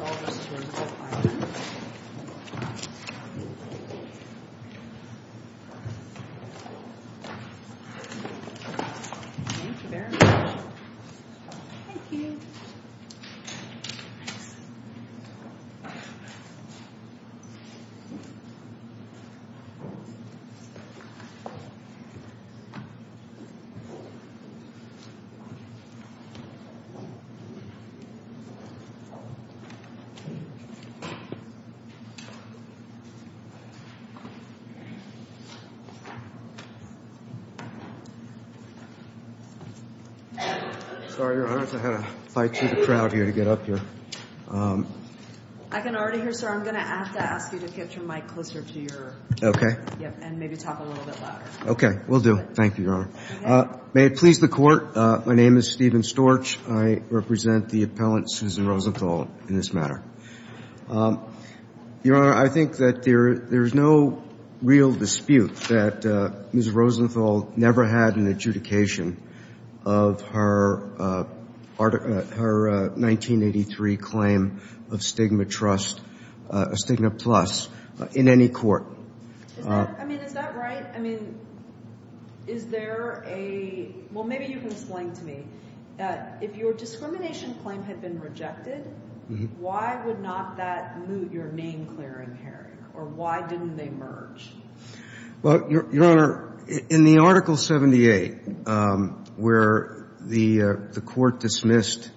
This is all just to include my name. Thank you very much. Thank you. Sorry, Your Honor, I had to fight through the crowd here to get up here. I can already hear, sir. I'm going to have to ask you to get your mic closer to your, and maybe talk a little bit louder. Okay. Will do. Thank you, Your Honor. May it please the Court, my name is Stephen Storch. I represent the appellant, Susan Rosenthal, in this matter. Your Honor, I think that there's no real dispute that Ms. Rosenthal never had an adjudication of her 1983 claim of stigma plus in any court. I mean, is that right? I mean, is there a – well, maybe you can explain to me. If your discrimination claim had been rejected, why would not that mute your name clearing, Harry? Or why didn't they merge? Well, Your Honor, in the Article 78, where the court dismissed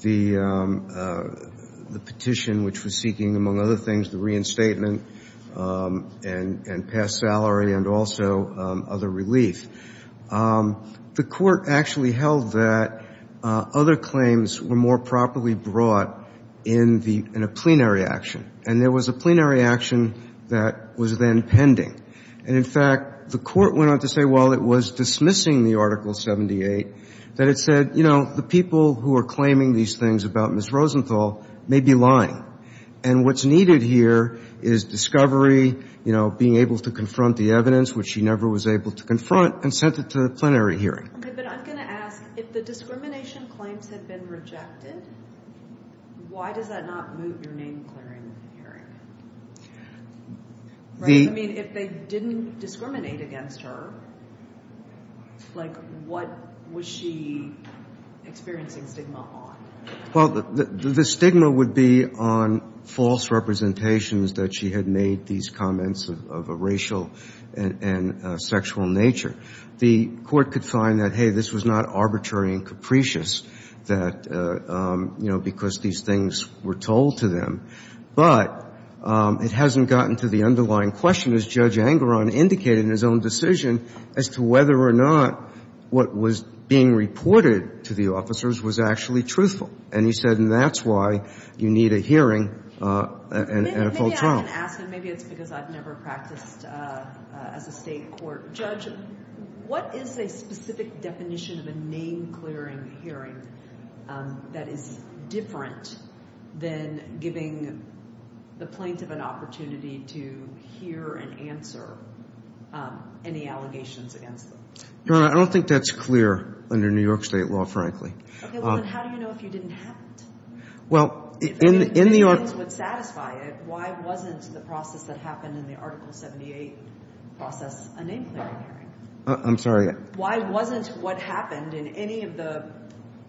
the petition which was seeking, among other things, the reinstatement and past salary and also other relief, the court actually held that other claims were more properly brought in a plenary action. And there was a plenary action that was then pending. And, in fact, the court went on to say, while it was dismissing the Article 78, that it said, you know, the people who are claiming these things about Ms. Rosenthal may be lying. And what's needed here is discovery, you know, being able to confront the evidence, which she never was able to confront, and sent it to the plenary hearing. Okay, but I'm going to ask, if the discrimination claims had been rejected, why does that not mute your name clearing, Harry? I mean, if they didn't discriminate against her, like, what was she experiencing stigma on? Well, the stigma would be on false representations that she had made, these comments of a racial and sexual nature. The court could find that, hey, this was not arbitrary and capricious that, you know, because these things were told to them. But it hasn't gotten to the underlying question, as Judge Angaran indicated in his own decision, as to whether or not what was being reported to the officers was actually truthful. And he said, and that's why you need a hearing and a full trial. I can ask, and maybe it's because I've never practiced as a state court judge, what is a specific definition of a name clearing hearing that is different than giving the plaintiff an opportunity to hear and answer any allegations against them? No, I don't think that's clear under New York State law, frankly. Okay, well, then how do you know if you didn't have it? Well, in the article... If the defendants would satisfy it, why wasn't the process that happened in the Article 78 process a name clearing hearing? I'm sorry? Why wasn't what happened in any of the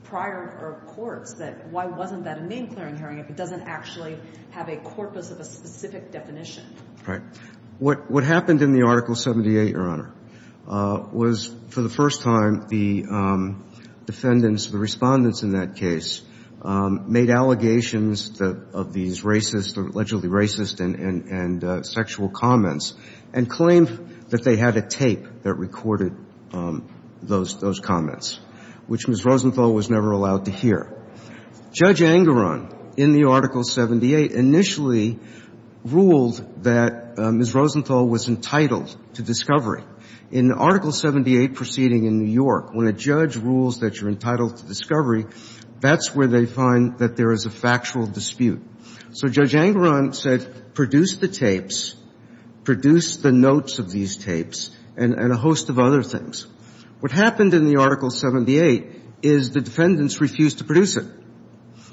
prior courts that, why wasn't that a name clearing hearing if it doesn't actually have a corpus of a specific definition? Right. What happened in the Article 78, Your Honor, was for the first time the defendants, the respondents in that case, made allegations of these racist or allegedly racist and sexual comments and claimed that they had a tape that recorded those comments, which Ms. Rosenthal was never allowed to hear. Judge Angaran in the Article 78 initially ruled that Ms. Rosenthal was entitled to discovery. In Article 78 proceeding in New York, when a judge rules that you're entitled to discovery, that's where they find that there is a factual dispute. So Judge Angaran said, produce the tapes, produce the notes of these tapes, and a host of other things. What happened in the Article 78 is the defendants refused to produce it.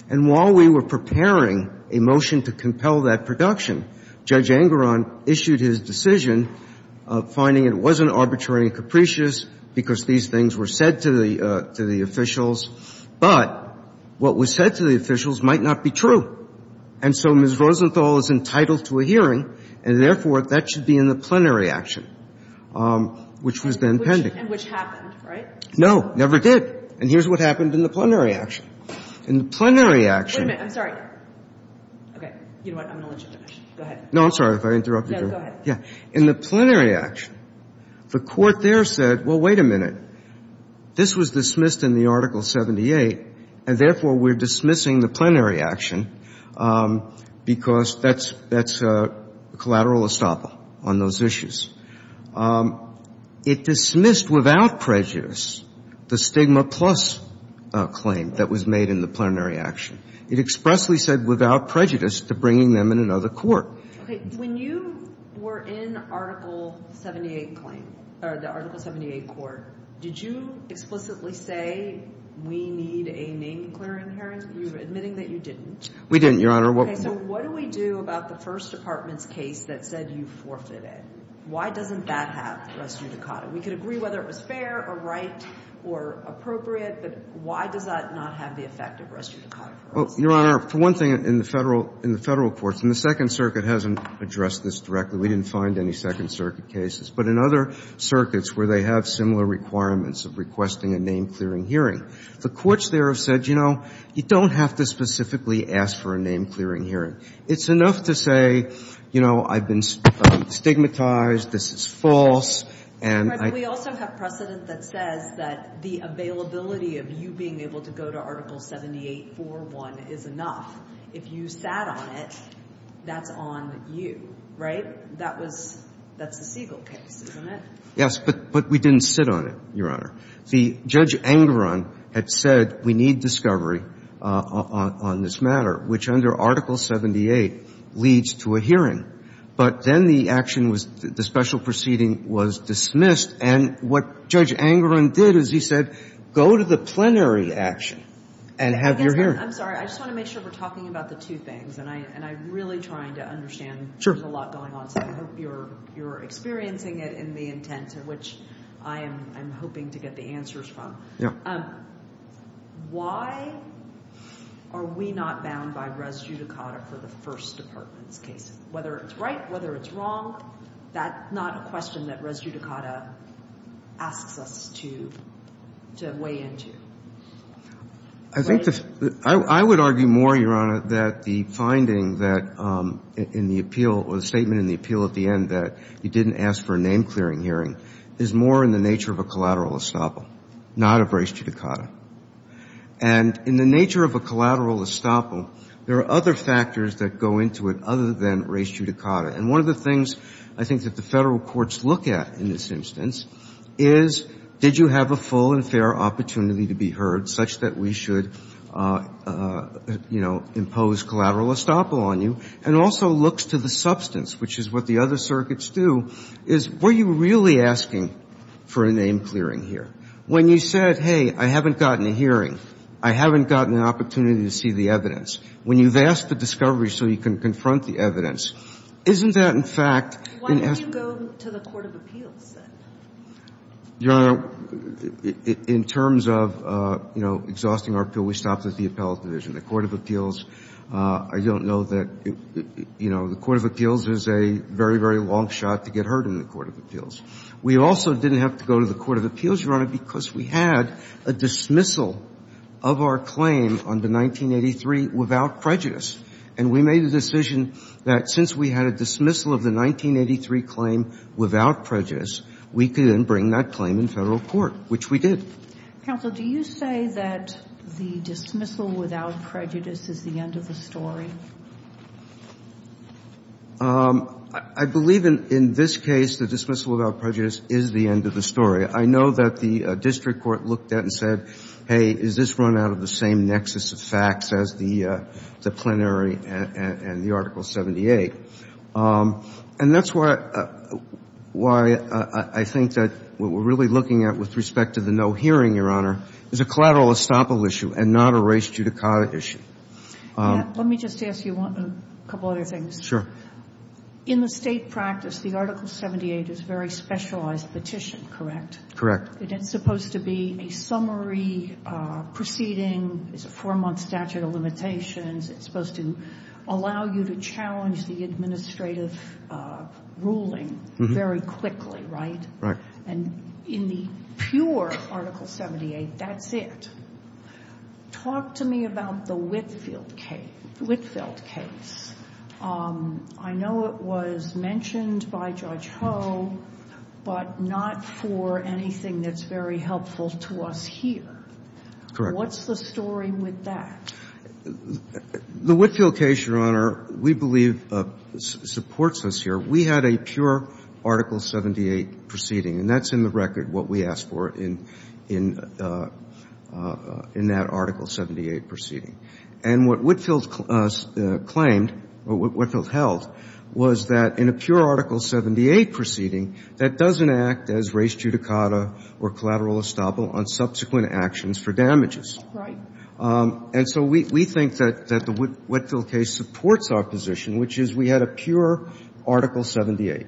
And while we were preparing a motion to compel that production, Judge Angaran issued his decision, finding it wasn't arbitrary and capricious because these things were said to the officials, but what was said to the officials might not be true. And so Ms. Rosenthal is entitled to a hearing, and therefore, that should be in the plenary action, which was then pending. And which happened, right? No, never did. And here's what happened in the plenary action. In the plenary action — Wait a minute. I'm sorry. Okay. You know what? I'm going to let you finish. Go ahead. No, I'm sorry if I interrupted you. No, go ahead. Yeah. In the plenary action, the Court there said, well, wait a minute. This was dismissed in the Article 78, and therefore, we're dismissing the plenary action because that's a collateral estoppel on those issues. It dismissed without prejudice the stigma-plus claim that was made in the plenary action. It expressly said without prejudice to bringing them in another court. Okay. When you were in Article 78 claim, or the Article 78 court, did you explicitly say we need a name-declaring hearing? You were admitting that you didn't. We didn't, Your Honor. Okay. So what do we do about the First Department's case that said you forfeited? Why doesn't that have res judicata? We could agree whether it was fair or right or appropriate, but why does that not have the effect of res judicata for us? Well, Your Honor, for one thing, in the Federal courts, and the Second Circuit hasn't addressed this directly. We didn't find any Second Circuit cases. But in other circuits where they have similar requirements of requesting a name-clearing hearing, the courts there have said, you know, you don't have to specifically ask for a name-clearing hearing. It's enough to say, you know, I've been stigmatized, this is false, and I — But we also have precedent that says that the availability of you being able to go to Article 78-4-1 is enough. If you sat on it, that's on you, right? That was — that's the Siegel case, isn't it? Yes. But we didn't sit on it, Your Honor. The — Judge Angaran had said we need discovery on this matter, which under Article 78 leads to a hearing. But then the action was — the special proceeding was dismissed. And what Judge Angaran did is he said, go to the plenary action and have your hearing. I'm sorry. I just want to make sure we're talking about the two things. And I'm really trying to understand. Sure. There's a lot going on. I hope you're experiencing it in the intent, which I am hoping to get the answers from. Why are we not bound by res judicata for the First Department's case? Whether it's right, whether it's wrong, that's not a question that res judicata asks us to weigh into. I think the — I would argue more, Your Honor, that the finding that in the appeal or the statement in the appeal at the end that you didn't ask for a name-clearing hearing is more in the nature of a collateral estoppel, not of res judicata. And in the nature of a collateral estoppel, there are other factors that go into it other than res judicata. And one of the things I think that the Federal courts look at in this instance is, did you have a full and fair opportunity to be heard such that we should, you know, impose collateral estoppel on you, and also looks to the substance, which is what the other circuits do, is were you really asking for a name-clearing hearing? When you said, hey, I haven't gotten a hearing, I haven't gotten an opportunity to see the evidence, when you've asked for discovery so you can confront the evidence, isn't that, in fact — Why didn't you go to the court of appeals, then? Your Honor, in terms of, you know, exhausting our appeal, we stopped at the appellate division. The court of appeals, I don't know that — you know, the court of appeals is a very, very long shot to get heard in the court of appeals. We also didn't have to go to the court of appeals, Your Honor, because we had a dismissal of our claim on the 1983 without prejudice. And we made a decision that since we had a dismissal of the 1983 claim without prejudice, we could then bring that claim in Federal court, which we did. Counsel, do you say that the dismissal without prejudice is the end of the story? I believe in this case the dismissal without prejudice is the end of the story. I know that the district court looked at it and said, hey, is this run out of the same nexus of facts as the plenary and the Article 78? And that's why I think that what we're really looking at with respect to the no hearing, Your Honor, is a collateral estoppel issue and not a race judicata issue. Let me just ask you a couple other things. Sure. In the State practice, the Article 78 is a very specialized petition, correct? Correct. It's supposed to be a summary proceeding. It's a four-month statute of limitations. It's supposed to allow you to challenge the administrative ruling very quickly, right? Right. And in the pure Article 78, that's it. Talk to me about the Whitfield case. I know it was mentioned by Judge Ho, but not for anything that's very helpful to us here. Correct. What's the story with that? The Whitfield case, Your Honor, we believe supports us here. We had a pure Article 78 proceeding, and that's in the record what we asked for in that Article 78 proceeding. And what Whitfield claimed, or what Whitfield held, was that in a pure Article 78 proceeding, that doesn't act as race judicata or collateral estoppel on subsequent actions for damages. Right. And so we think that the Whitfield case supports our position, which is we had a pure Article 78.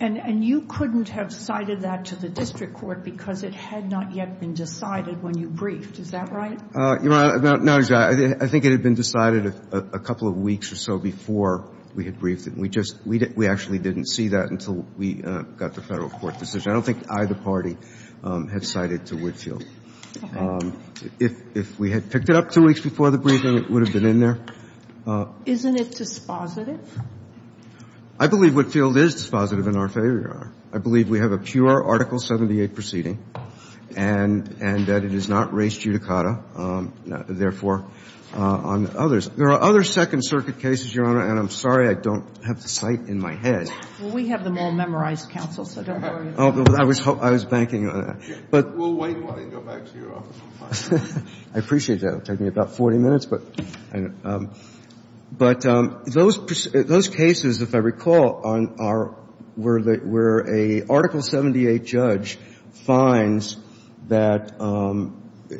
And you couldn't have cited that to the district court because it had not yet been decided when you briefed. Is that right? No, Your Honor. I think it had been decided a couple of weeks or so before we had briefed it. We actually didn't see that until we got the Federal court decision. I don't think either party had cited to Whitfield. Okay. If we had picked it up two weeks before the briefing, it would have been in there. Isn't it dispositive? I believe Whitfield is dispositive in our favor, Your Honor. I believe we have a pure Article 78 proceeding and that it is not race judicata, therefore, on others. There are other Second Circuit cases, Your Honor, and I'm sorry I don't have the site in my head. Well, we have them all memorized, counsel, so don't worry. I was banking on that. We'll wait while I go back to your office and find it. I appreciate that. It will take me about 40 minutes. But those cases, if I recall, where a Article 78 judge finds that,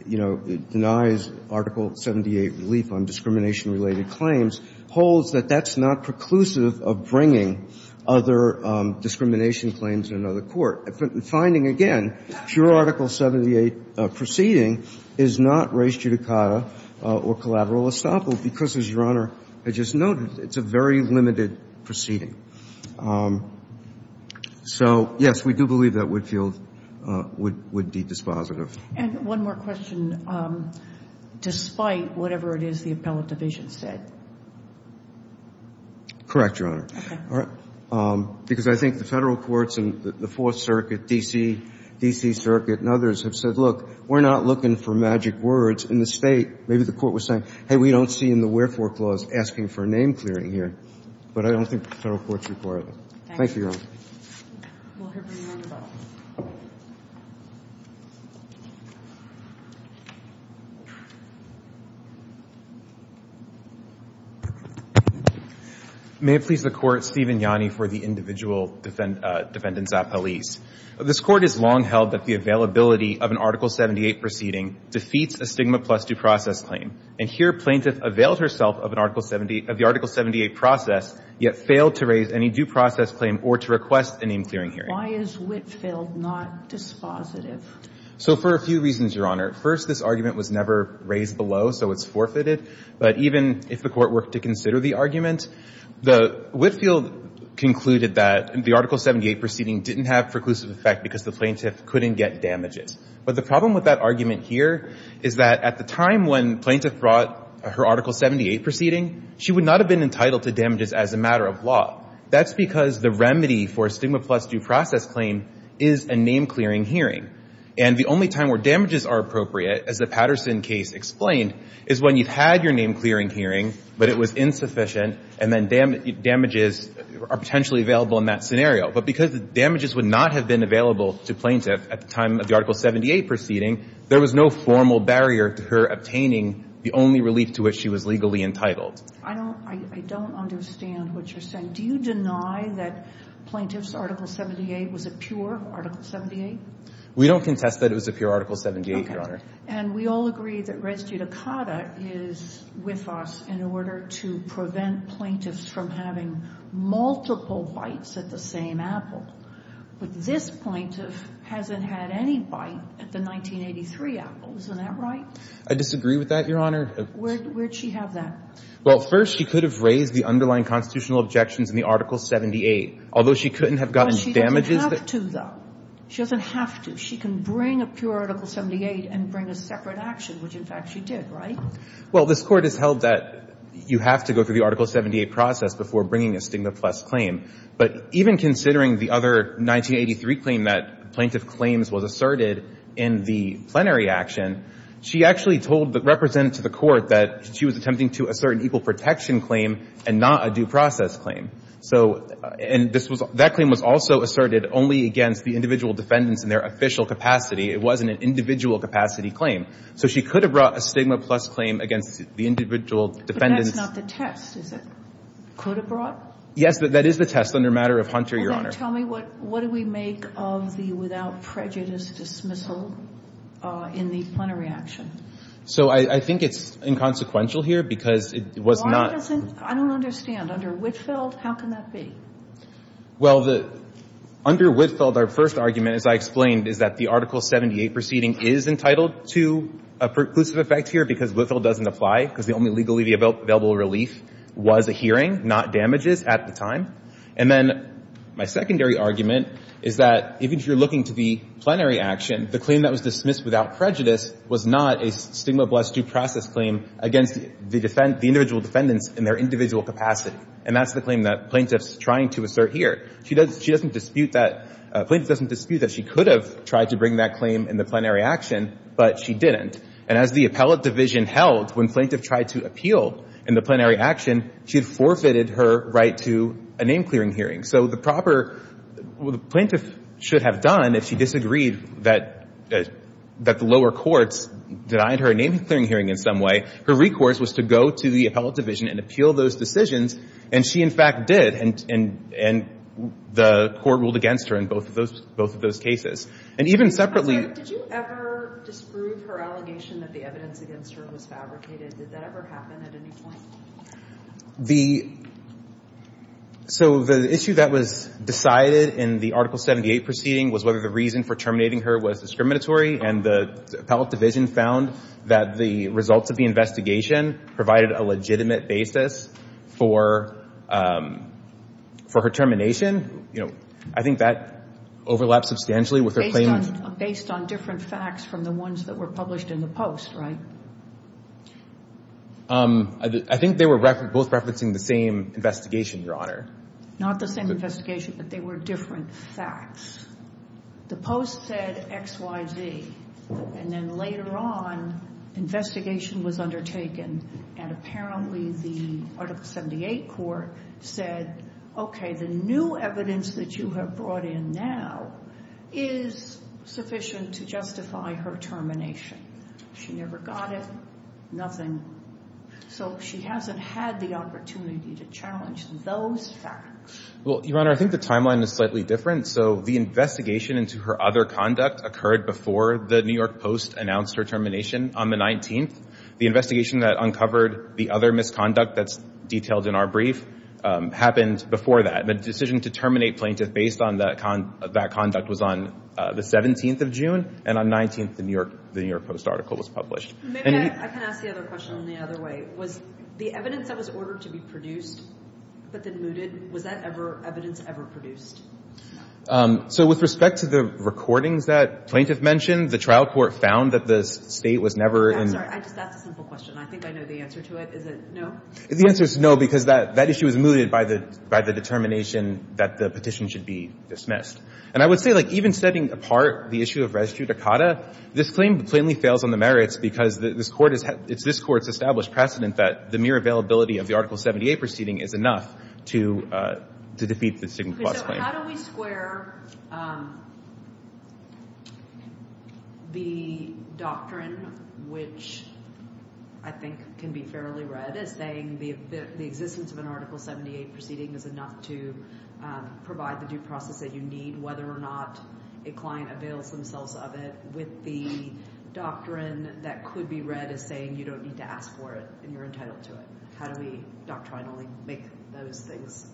you know, denies Article 78 relief on discrimination-related claims, holds that that's not preclusive of bringing other discrimination claims to another court. The finding, again, pure Article 78 proceeding is not race judicata or collateral estoppel because, as Your Honor, I just noted, it's a very limited proceeding. So, yes, we do believe that Whitfield would be dispositive. And one more question. Despite whatever it is the appellate division said. Correct, Your Honor. Okay. Because I think the federal courts and the Fourth Circuit, D.C., D.C. Circuit, and others have said, look, we're not looking for magic words. In the State, maybe the court was saying, hey, we don't see in the wherefore clause asking for a name clearing here. But I don't think the federal courts require that. Thank you, Your Honor. We'll hear from you on the phone. May it please the Court, Stephen Yanni for the individual defendants appellees. This Court has long held that the availability of an Article 78 proceeding defeats a stigma plus due process claim. And here plaintiff availed herself of the Article 78 process, yet failed to raise any due process claim or to request a name clearing hearing. Why is Whitfield not dispositive? So for a few reasons, Your Honor. First, this argument was never raised below, so it's forfeited. But even if the Court were to consider the argument, the Whitfield concluded that the Article 78 proceeding didn't have preclusive effect because the plaintiff couldn't get damages. But the problem with that argument here is that at the time when plaintiff brought up her Article 78 proceeding, she would not have been entitled to damages as a matter of law. That's because the remedy for a stigma plus due process claim is a name clearing hearing. And the only time where damages are appropriate, as the Patterson case explained, is when you've had your name clearing hearing, but it was insufficient, and then damages are potentially available in that scenario. But because damages would not have been available to plaintiff at the time of the Article 78 proceeding, there was no formal barrier to her obtaining the only relief to which she was legally entitled. I don't understand what you're saying. Do you deny that plaintiff's Article 78 was a pure Article 78? We don't contest that it was a pure Article 78, Your Honor. Okay. And we all agree that res judicata is with us in order to prevent plaintiffs from having multiple bites at the same apple. But this plaintiff hasn't had any bite at the 1983 apple. Isn't that right? I disagree with that, Your Honor. Where did she have that? Well, first, she could have raised the underlying constitutional objections in the Article 78. Although she couldn't have gotten damages. But she doesn't have to, though. She doesn't have to. She can bring a pure Article 78 and bring a separate action, which, in fact, she did, right? Well, this Court has held that you have to go through the Article 78 process before bringing a stigma plus claim. But even considering the other 1983 claim that plaintiff claims was asserted in the plenary action, she actually told the representative to the Court that she was attempting to assert an equal protection claim and not a due process claim. So and this was – that claim was also asserted only against the individual defendants in their official capacity. It wasn't an individual capacity claim. So she could have brought a stigma plus claim against the individual defendants. But that's not the test, is it? Could have brought? Yes, that is the test under matter of Hunter, Your Honor. Well, then tell me what do we make of the without prejudice dismissal in the plenary action? So I think it's inconsequential here because it was not – Why doesn't – I don't understand. Under Whitfield, how can that be? Well, under Whitfield, our first argument, as I explained, is that the Article 78 proceeding is entitled to a preclusive effect here because Whitfield doesn't apply because the only legally available relief was a hearing, not damages at the time. And then my secondary argument is that even if you're looking to the plenary action, the claim that was dismissed without prejudice was not a stigma plus due process claim against the individual defendants in their individual capacity. And that's the claim that plaintiff's trying to assert here. She doesn't dispute that – plaintiff doesn't dispute that she could have tried to bring that claim in the plenary action, but she didn't. And as the appellate division held, when plaintiff tried to appeal in the plenary action, she had forfeited her right to a name-clearing hearing. So the proper – what the plaintiff should have done if she disagreed that the lower courts denied her a name-clearing hearing in some way, her recourse was to go to the appellate division and appeal those decisions, and she, in fact, did. And the court ruled against her in both of those cases. And even separately – But did you ever disprove her allegation that the evidence against her was fabricated? Did that ever happen at any point? The – so the issue that was decided in the Article 78 proceeding was whether the reason for terminating her was discriminatory, and the appellate division found that the results of the investigation provided a legitimate basis for her termination. You know, I think that overlaps substantially with her claim – Based on different facts from the ones that were published in the Post, right? I think they were both referencing the same investigation, Your Honor. Not the same investigation, but they were different facts. The Post said X, Y, Z. And then later on, investigation was undertaken, and apparently the Article 78 court said, okay, the new evidence that you have brought in now is sufficient to justify her termination. She never got it, nothing. So she hasn't had the opportunity to challenge those facts. Well, Your Honor, I think the timeline is slightly different. So the investigation into her other conduct occurred before the New York Post announced her termination on the 19th. The investigation that uncovered the other misconduct that's detailed in our brief happened before that. The decision to terminate Plaintiff based on that conduct was on the 17th of June, and on 19th, the New York Post article was published. Maybe I can ask the other question in the other way. Was the evidence that was ordered to be produced but then mooted, was that evidence ever produced? So with respect to the recordings that Plaintiff mentioned, the trial court found that the State was never in – I'm sorry, I just asked a simple question. I think I know the answer to it. Is it no? The answer is no, because that issue was mooted by the determination that the petition should be dismissed. And I would say, like, even setting apart the issue of res judicata, this claim plainly fails on the merits because this Court has – it's this Court's established precedent that the mere availability of the Article 78 proceeding is enough to defeat the stigma clause claim. How do we square the doctrine, which I think can be fairly read as saying the existence of an Article 78 proceeding is enough to provide the due process that you need, whether or not a client avails themselves of it, with the doctrine that could be read as saying you don't need to ask for it and you're entitled to it? How do we doctrinally make those things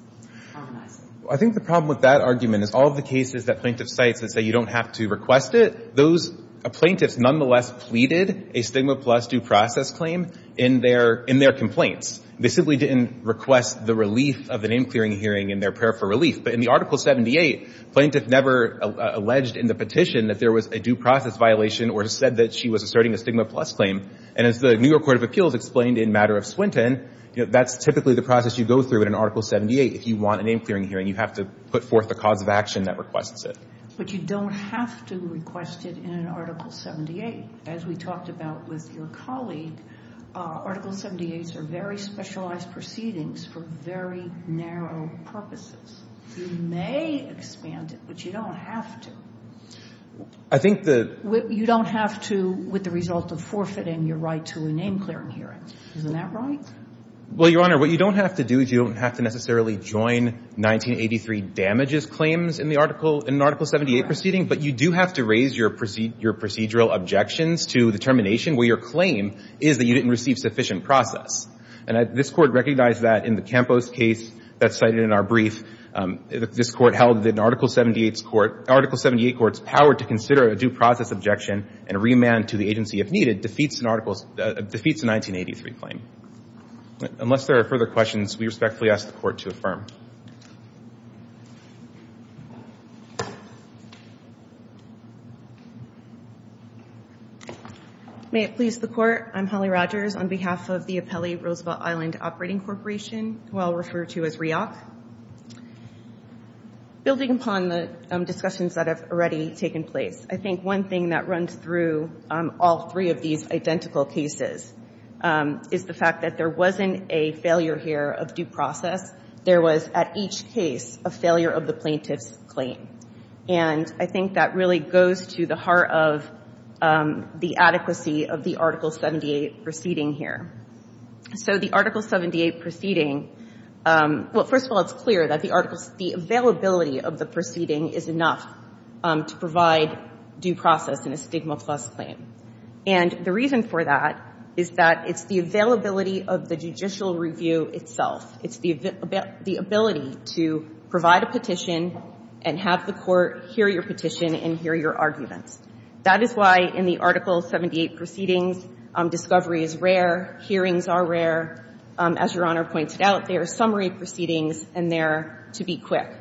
harmonize? I think the problem with that argument is all the cases that plaintiff cites that say you don't have to request it, those plaintiffs nonetheless pleaded a stigma plus due process claim in their – in their complaints. They simply didn't request the relief of the name-clearing hearing in their prayer for relief. But in the Article 78, plaintiff never alleged in the petition that there was a due process violation or said that she was asserting a stigma plus claim. And as the New York Court of Appeals explained in matter of Swinton, that's typically the process you go through in an Article 78. If you want a name-clearing hearing, you have to put forth a cause of action that requests it. But you don't have to request it in an Article 78. As we talked about with your colleague, Article 78s are very specialized proceedings for very narrow purposes. You may expand it, but you don't have to. I think the – You don't have to with the result of forfeiting your right to a name-clearing hearing. Isn't that right? Well, Your Honor, what you don't have to do is you don't have to necessarily join 1983 damages claims in the Article – in an Article 78 proceeding. But you do have to raise your procedural objections to the termination where your claim is that you didn't receive sufficient process. And this Court recognized that in the Campos case that's cited in our brief. This Court held that an Article 78's court – Article 78 court's power to consider a due process objection and remand to the agency if needed defeats an Article – defeats a 1983 claim. Unless there are further questions, we respectfully ask the Court to affirm. May it please the Court. I'm Holly Rogers on behalf of the Apelli Roosevelt Island Operating Corporation, who I'll refer to as REOC. Building upon the discussions that have already taken place, I think one thing that runs through all three of these identical cases is the fact that there wasn't a failure here of due process. There was, at each case, a failure of the plaintiff's claim. And I think that really goes to the heart of the adequacy of the Article 78 proceeding here. So the Article 78 proceeding – well, first of all, it's clear that the articles – the availability of the proceeding is enough to provide due process in a stigma plus claim. And the reason for that is that it's the availability of the judicial review itself. It's the ability to provide a petition and have the Court hear your petition and hear your arguments. That is why in the Article 78 proceedings, discovery is rare, hearings are rare. As Your Honor pointed out, there are summary proceedings, and they're to be quick.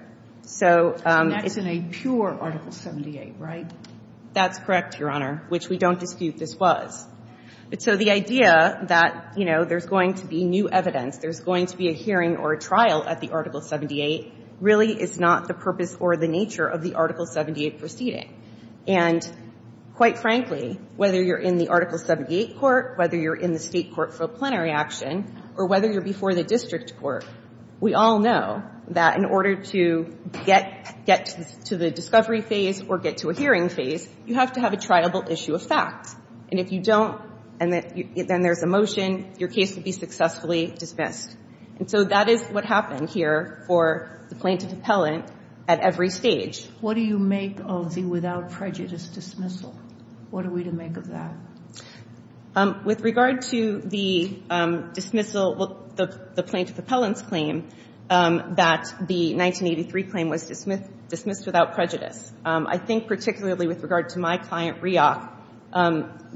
So it's – And that's in a pure Article 78, right? That's correct, Your Honor, which we don't dispute this was. So the idea that, you know, there's going to be new evidence, there's going to be a hearing or a trial at the Article 78, really is not the purpose or the nature of the Article 78 proceeding. And quite frankly, whether you're in the Article 78 court, whether you're in the State Supreme Court for a plenary action, or whether you're before the district court, we all know that in order to get to the discovery phase or get to a hearing phase, you have to have a triable issue of fact. And if you don't, and then there's a motion, your case will be successfully dismissed. And so that is what happened here for the plaintiff appellant at every stage. What do you make of the without prejudice dismissal? What are we to make of that? With regard to the dismissal, the plaintiff appellant's claim, that the 1983 claim was dismissed without prejudice, I think particularly with regard to my client, Riach,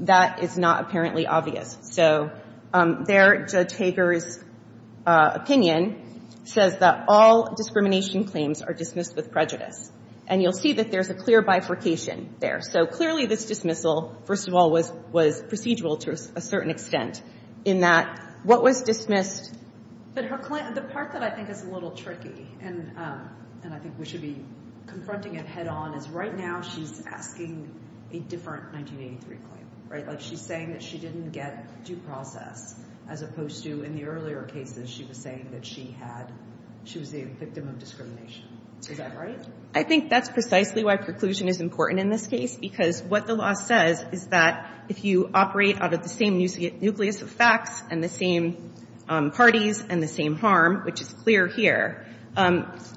that is not apparently obvious. So there, Judge Hager's opinion says that all discrimination claims are dismissed with prejudice. And you'll see that there's a clear bifurcation there. So clearly this dismissal, first of all, was procedural to a certain extent in that what was dismissed. But the part that I think is a little tricky, and I think we should be confronting it head on, is right now she's asking a different 1983 claim, right? Like she's saying that she didn't get due process as opposed to in the earlier cases she was saying that she was the victim of discrimination. Is that right? I think that's precisely why preclusion is important in this case, because what the law says is that if you operate out of the same nucleus of facts and the same parties and the same harm, which is clear here, that's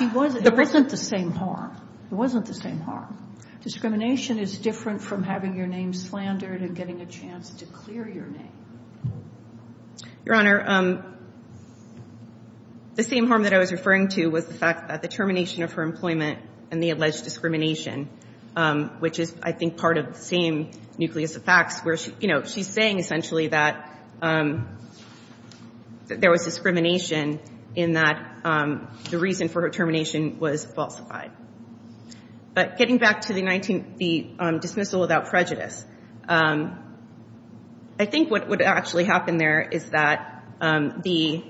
the problem. It wasn't the same harm. It wasn't the same harm. Discrimination is different from having your name slandered and getting a chance to clear your name. Your Honor, the same harm that I was referring to was the fact that the term discrimination of her employment and the alleged discrimination, which is, I think, part of the same nucleus of facts where she's saying essentially that there was discrimination in that the reason for her termination was falsified. But getting back to the dismissal without prejudice, I think what would actually happen there is that the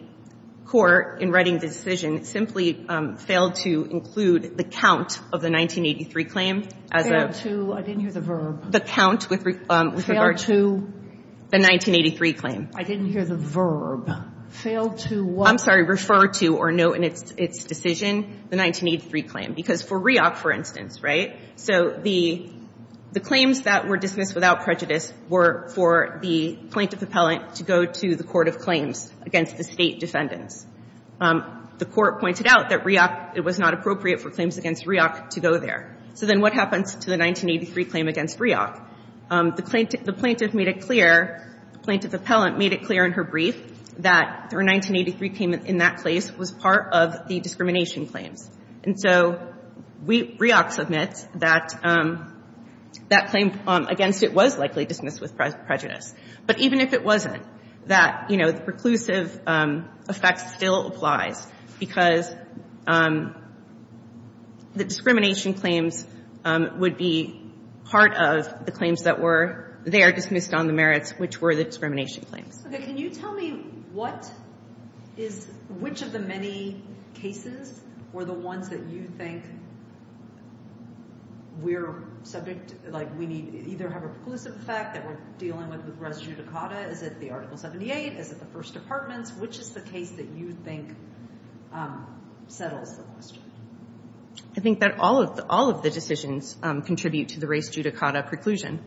court in writing the decision simply failed to include the count of the 1983 claim as a ---- Failed to. I didn't hear the verb. The count with regard to ---- Failed to. The 1983 claim. I didn't hear the verb. Failed to what? I'm sorry, refer to or note in its decision the 1983 claim. Because for REOP, for instance, right, so the claims that were dismissed without prejudice were for the plaintiff appellant to go to the court of claims against the State defendants. The court pointed out that REOP, it was not appropriate for claims against REOP to go there. So then what happens to the 1983 claim against REOP? The plaintiff made it clear, plaintiff appellant made it clear in her brief that her 1983 payment in that case was part of the discrimination claims. And so REOP submits that claim against it was likely dismissed with prejudice. But even if it wasn't, that, you know, the preclusive effect still applies because the discrimination claims would be part of the claims that were there dismissed on the merits, which were the discrimination claims. Okay, can you tell me what is, which of the many cases were the ones that you think we're subject, like we need, either have a preclusive effect that we're dealing with with res judicata? Is it the Article 78? Is it the First Departments? Which is the case that you think settles the question? I think that all of the decisions contribute to the res judicata preclusion.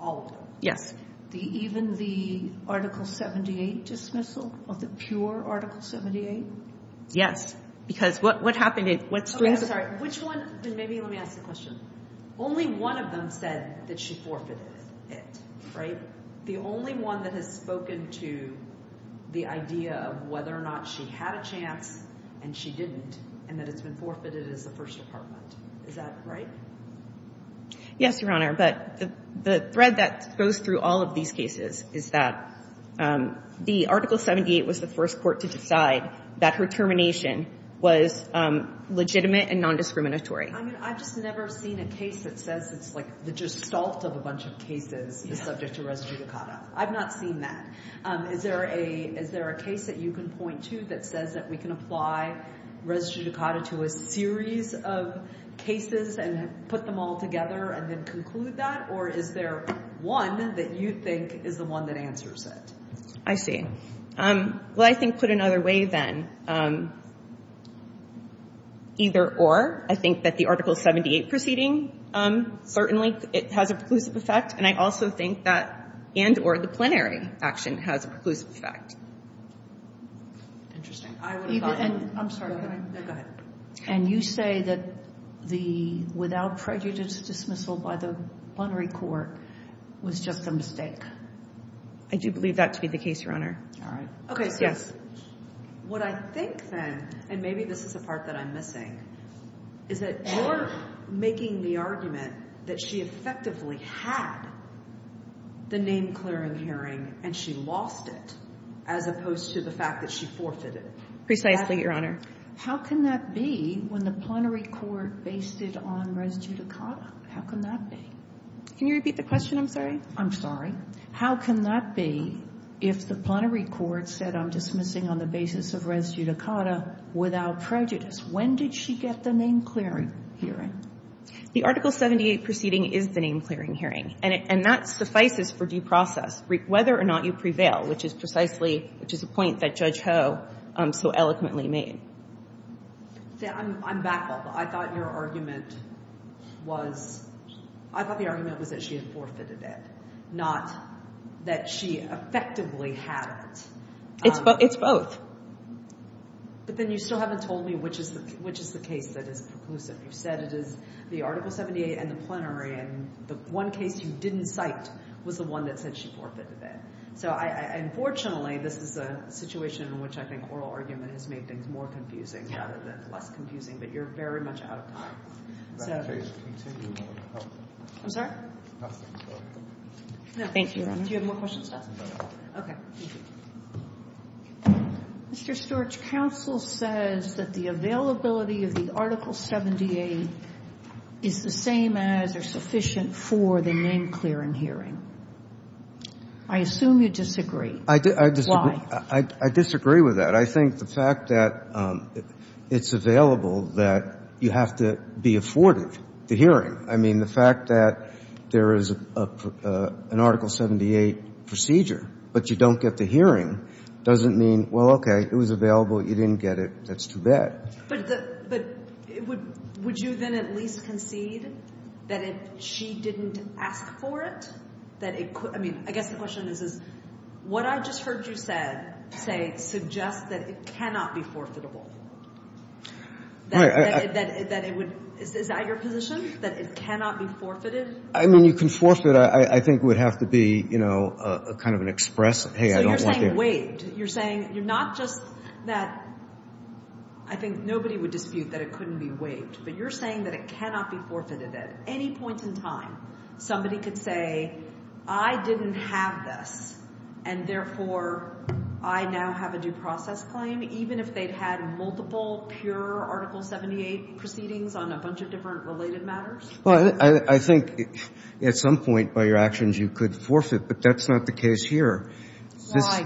All of them? Yes. Even the Article 78 dismissal of the pure Article 78? Because what happened is, what's the reason? Okay, I'm sorry. Which one? Maybe let me ask the question. Only one of them said that she forfeited it, right? The only one that has spoken to the idea of whether or not she had a chance and she didn't and that it's been forfeited is the First Department. Is that right? Yes, Your Honor. But the thread that goes through all of these cases is that the Article 78 was the first court to decide that her termination was legitimate and nondiscriminatory. I mean, I've just never seen a case that says it's like the gestalt of a bunch of cases is subject to res judicata. I've not seen that. Is there a case that you can point to that says that we can apply res judicata to a series of cases and put them all together and then conclude that? Or is there one that you think is the one that answers it? I see. Well, I think put another way then, either or. I think that the Article 78 proceeding certainly has a preclusive effect, and I also think that and or the plenary action has a preclusive effect. Interesting. I'm sorry. Go ahead. And you say that the without prejudice dismissal by the plenary court was just a mistake? I do believe that to be the case, Your Honor. All right. Okay. What I think then, and maybe this is a part that I'm missing, is that you're making the argument that she effectively had the name-clearing hearing and she lost it, as opposed to the fact that she forfeited it. Precisely, Your Honor. How can that be when the plenary court based it on res judicata? How can that be? Can you repeat the question, I'm sorry? I'm sorry. How can that be if the plenary court said, I'm dismissing on the basis of res judicata without prejudice? When did she get the name-clearing hearing? The Article 78 proceeding is the name-clearing hearing, and that suffices for due process, whether or not you prevail, which is precisely a point that Judge Ho so eloquently made. I'm back on that. I thought your argument was that she had forfeited it, not that she effectively had it. It's both. But then you still haven't told me which is the case that is preclusive. You said it is the Article 78 and the plenary, and the one case you didn't cite was the one that said she forfeited it. So, unfortunately, this is a situation in which I think oral argument has made things more confusing rather than less confusing, but you're very much out of time. I'm sorry? Nothing. Thank you, Your Honor. Do you have more questions? No. Okay. Thank you. Mr. Stewart's counsel says that the availability of the Article 78 is the same as or sufficient for the name-clearing hearing. I assume you disagree. I disagree with that. I think the fact that it's available, that you have to be afforded the hearing. I mean, the fact that there is an Article 78 procedure, but you don't get the hearing doesn't mean, well, okay, it was available, you didn't get it, that's too bad. But would you then at least concede that she didn't ask for it? I mean, I guess the question is, what I just heard you say suggests that it cannot be forfeitable. Is that your position, that it cannot be forfeited? I mean, you can forfeit. I think it would have to be kind of an express, hey, I don't want to. So you're saying wait. You're saying you're not just that I think nobody would dispute that it couldn't be waived, but you're saying that it cannot be forfeited at any point in time. Somebody could say I didn't have this, and therefore I now have a due process claim, even if they'd had multiple pure Article 78 proceedings on a bunch of different related matters? Well, I think at some point by your actions you could forfeit, but that's not the case here. Why?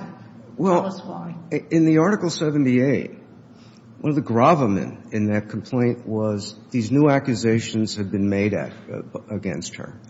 Tell us why. Well, in the Article 78, one of the gravamen in that complaint was these new accusations had been made against her,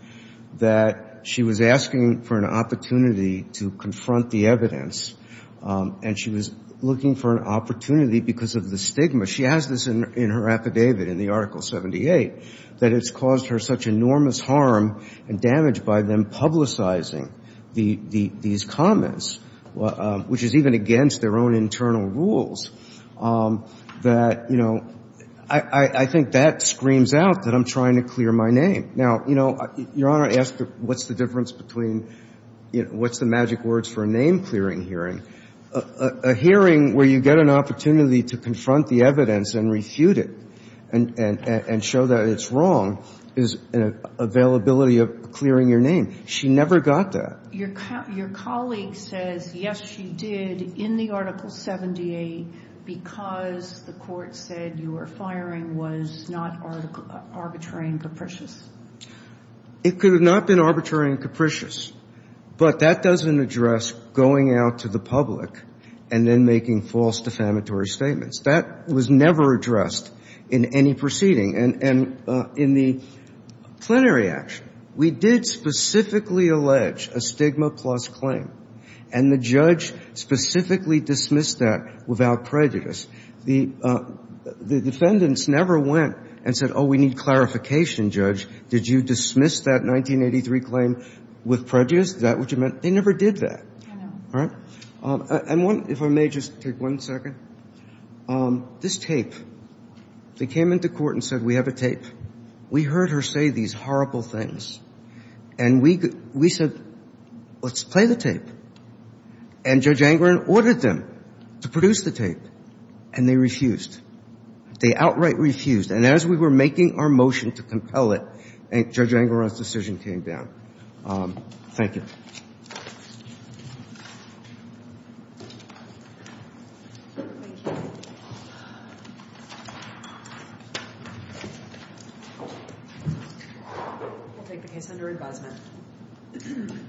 that she was asking for an opportunity to confront the evidence, and she was looking for an opportunity because of the stigma. She has this in her affidavit in the Article 78, that it's caused her such enormous harm and damage by them publicizing these comments. Which is even against their own internal rules. That, you know, I think that screams out that I'm trying to clear my name. Now, you know, Your Honor asked what's the difference between what's the magic words for a name-clearing hearing? A hearing where you get an opportunity to confront the evidence and refute it and show that it's wrong is an availability of clearing your name. She never got that. Your colleague says, yes, she did in the Article 78 because the court said your firing was not arbitrary and capricious. It could have not been arbitrary and capricious, but that doesn't address going out to the public and then making false defamatory statements. That was never addressed in any proceeding. And in the plenary action, we did specifically allege a stigma-plus claim, and the judge specifically dismissed that without prejudice. The defendants never went and said, oh, we need clarification, Judge. Did you dismiss that 1983 claim with prejudice? Is that what you meant? They never did that. All right? If I may just take one second. This tape, they came into court and said, we have a tape. We heard her say these horrible things, and we said, let's play the tape. And Judge Angaran ordered them to produce the tape, and they refused. They outright refused. And as we were making our motion to compel it, Judge Angaran's decision came down. Thank you.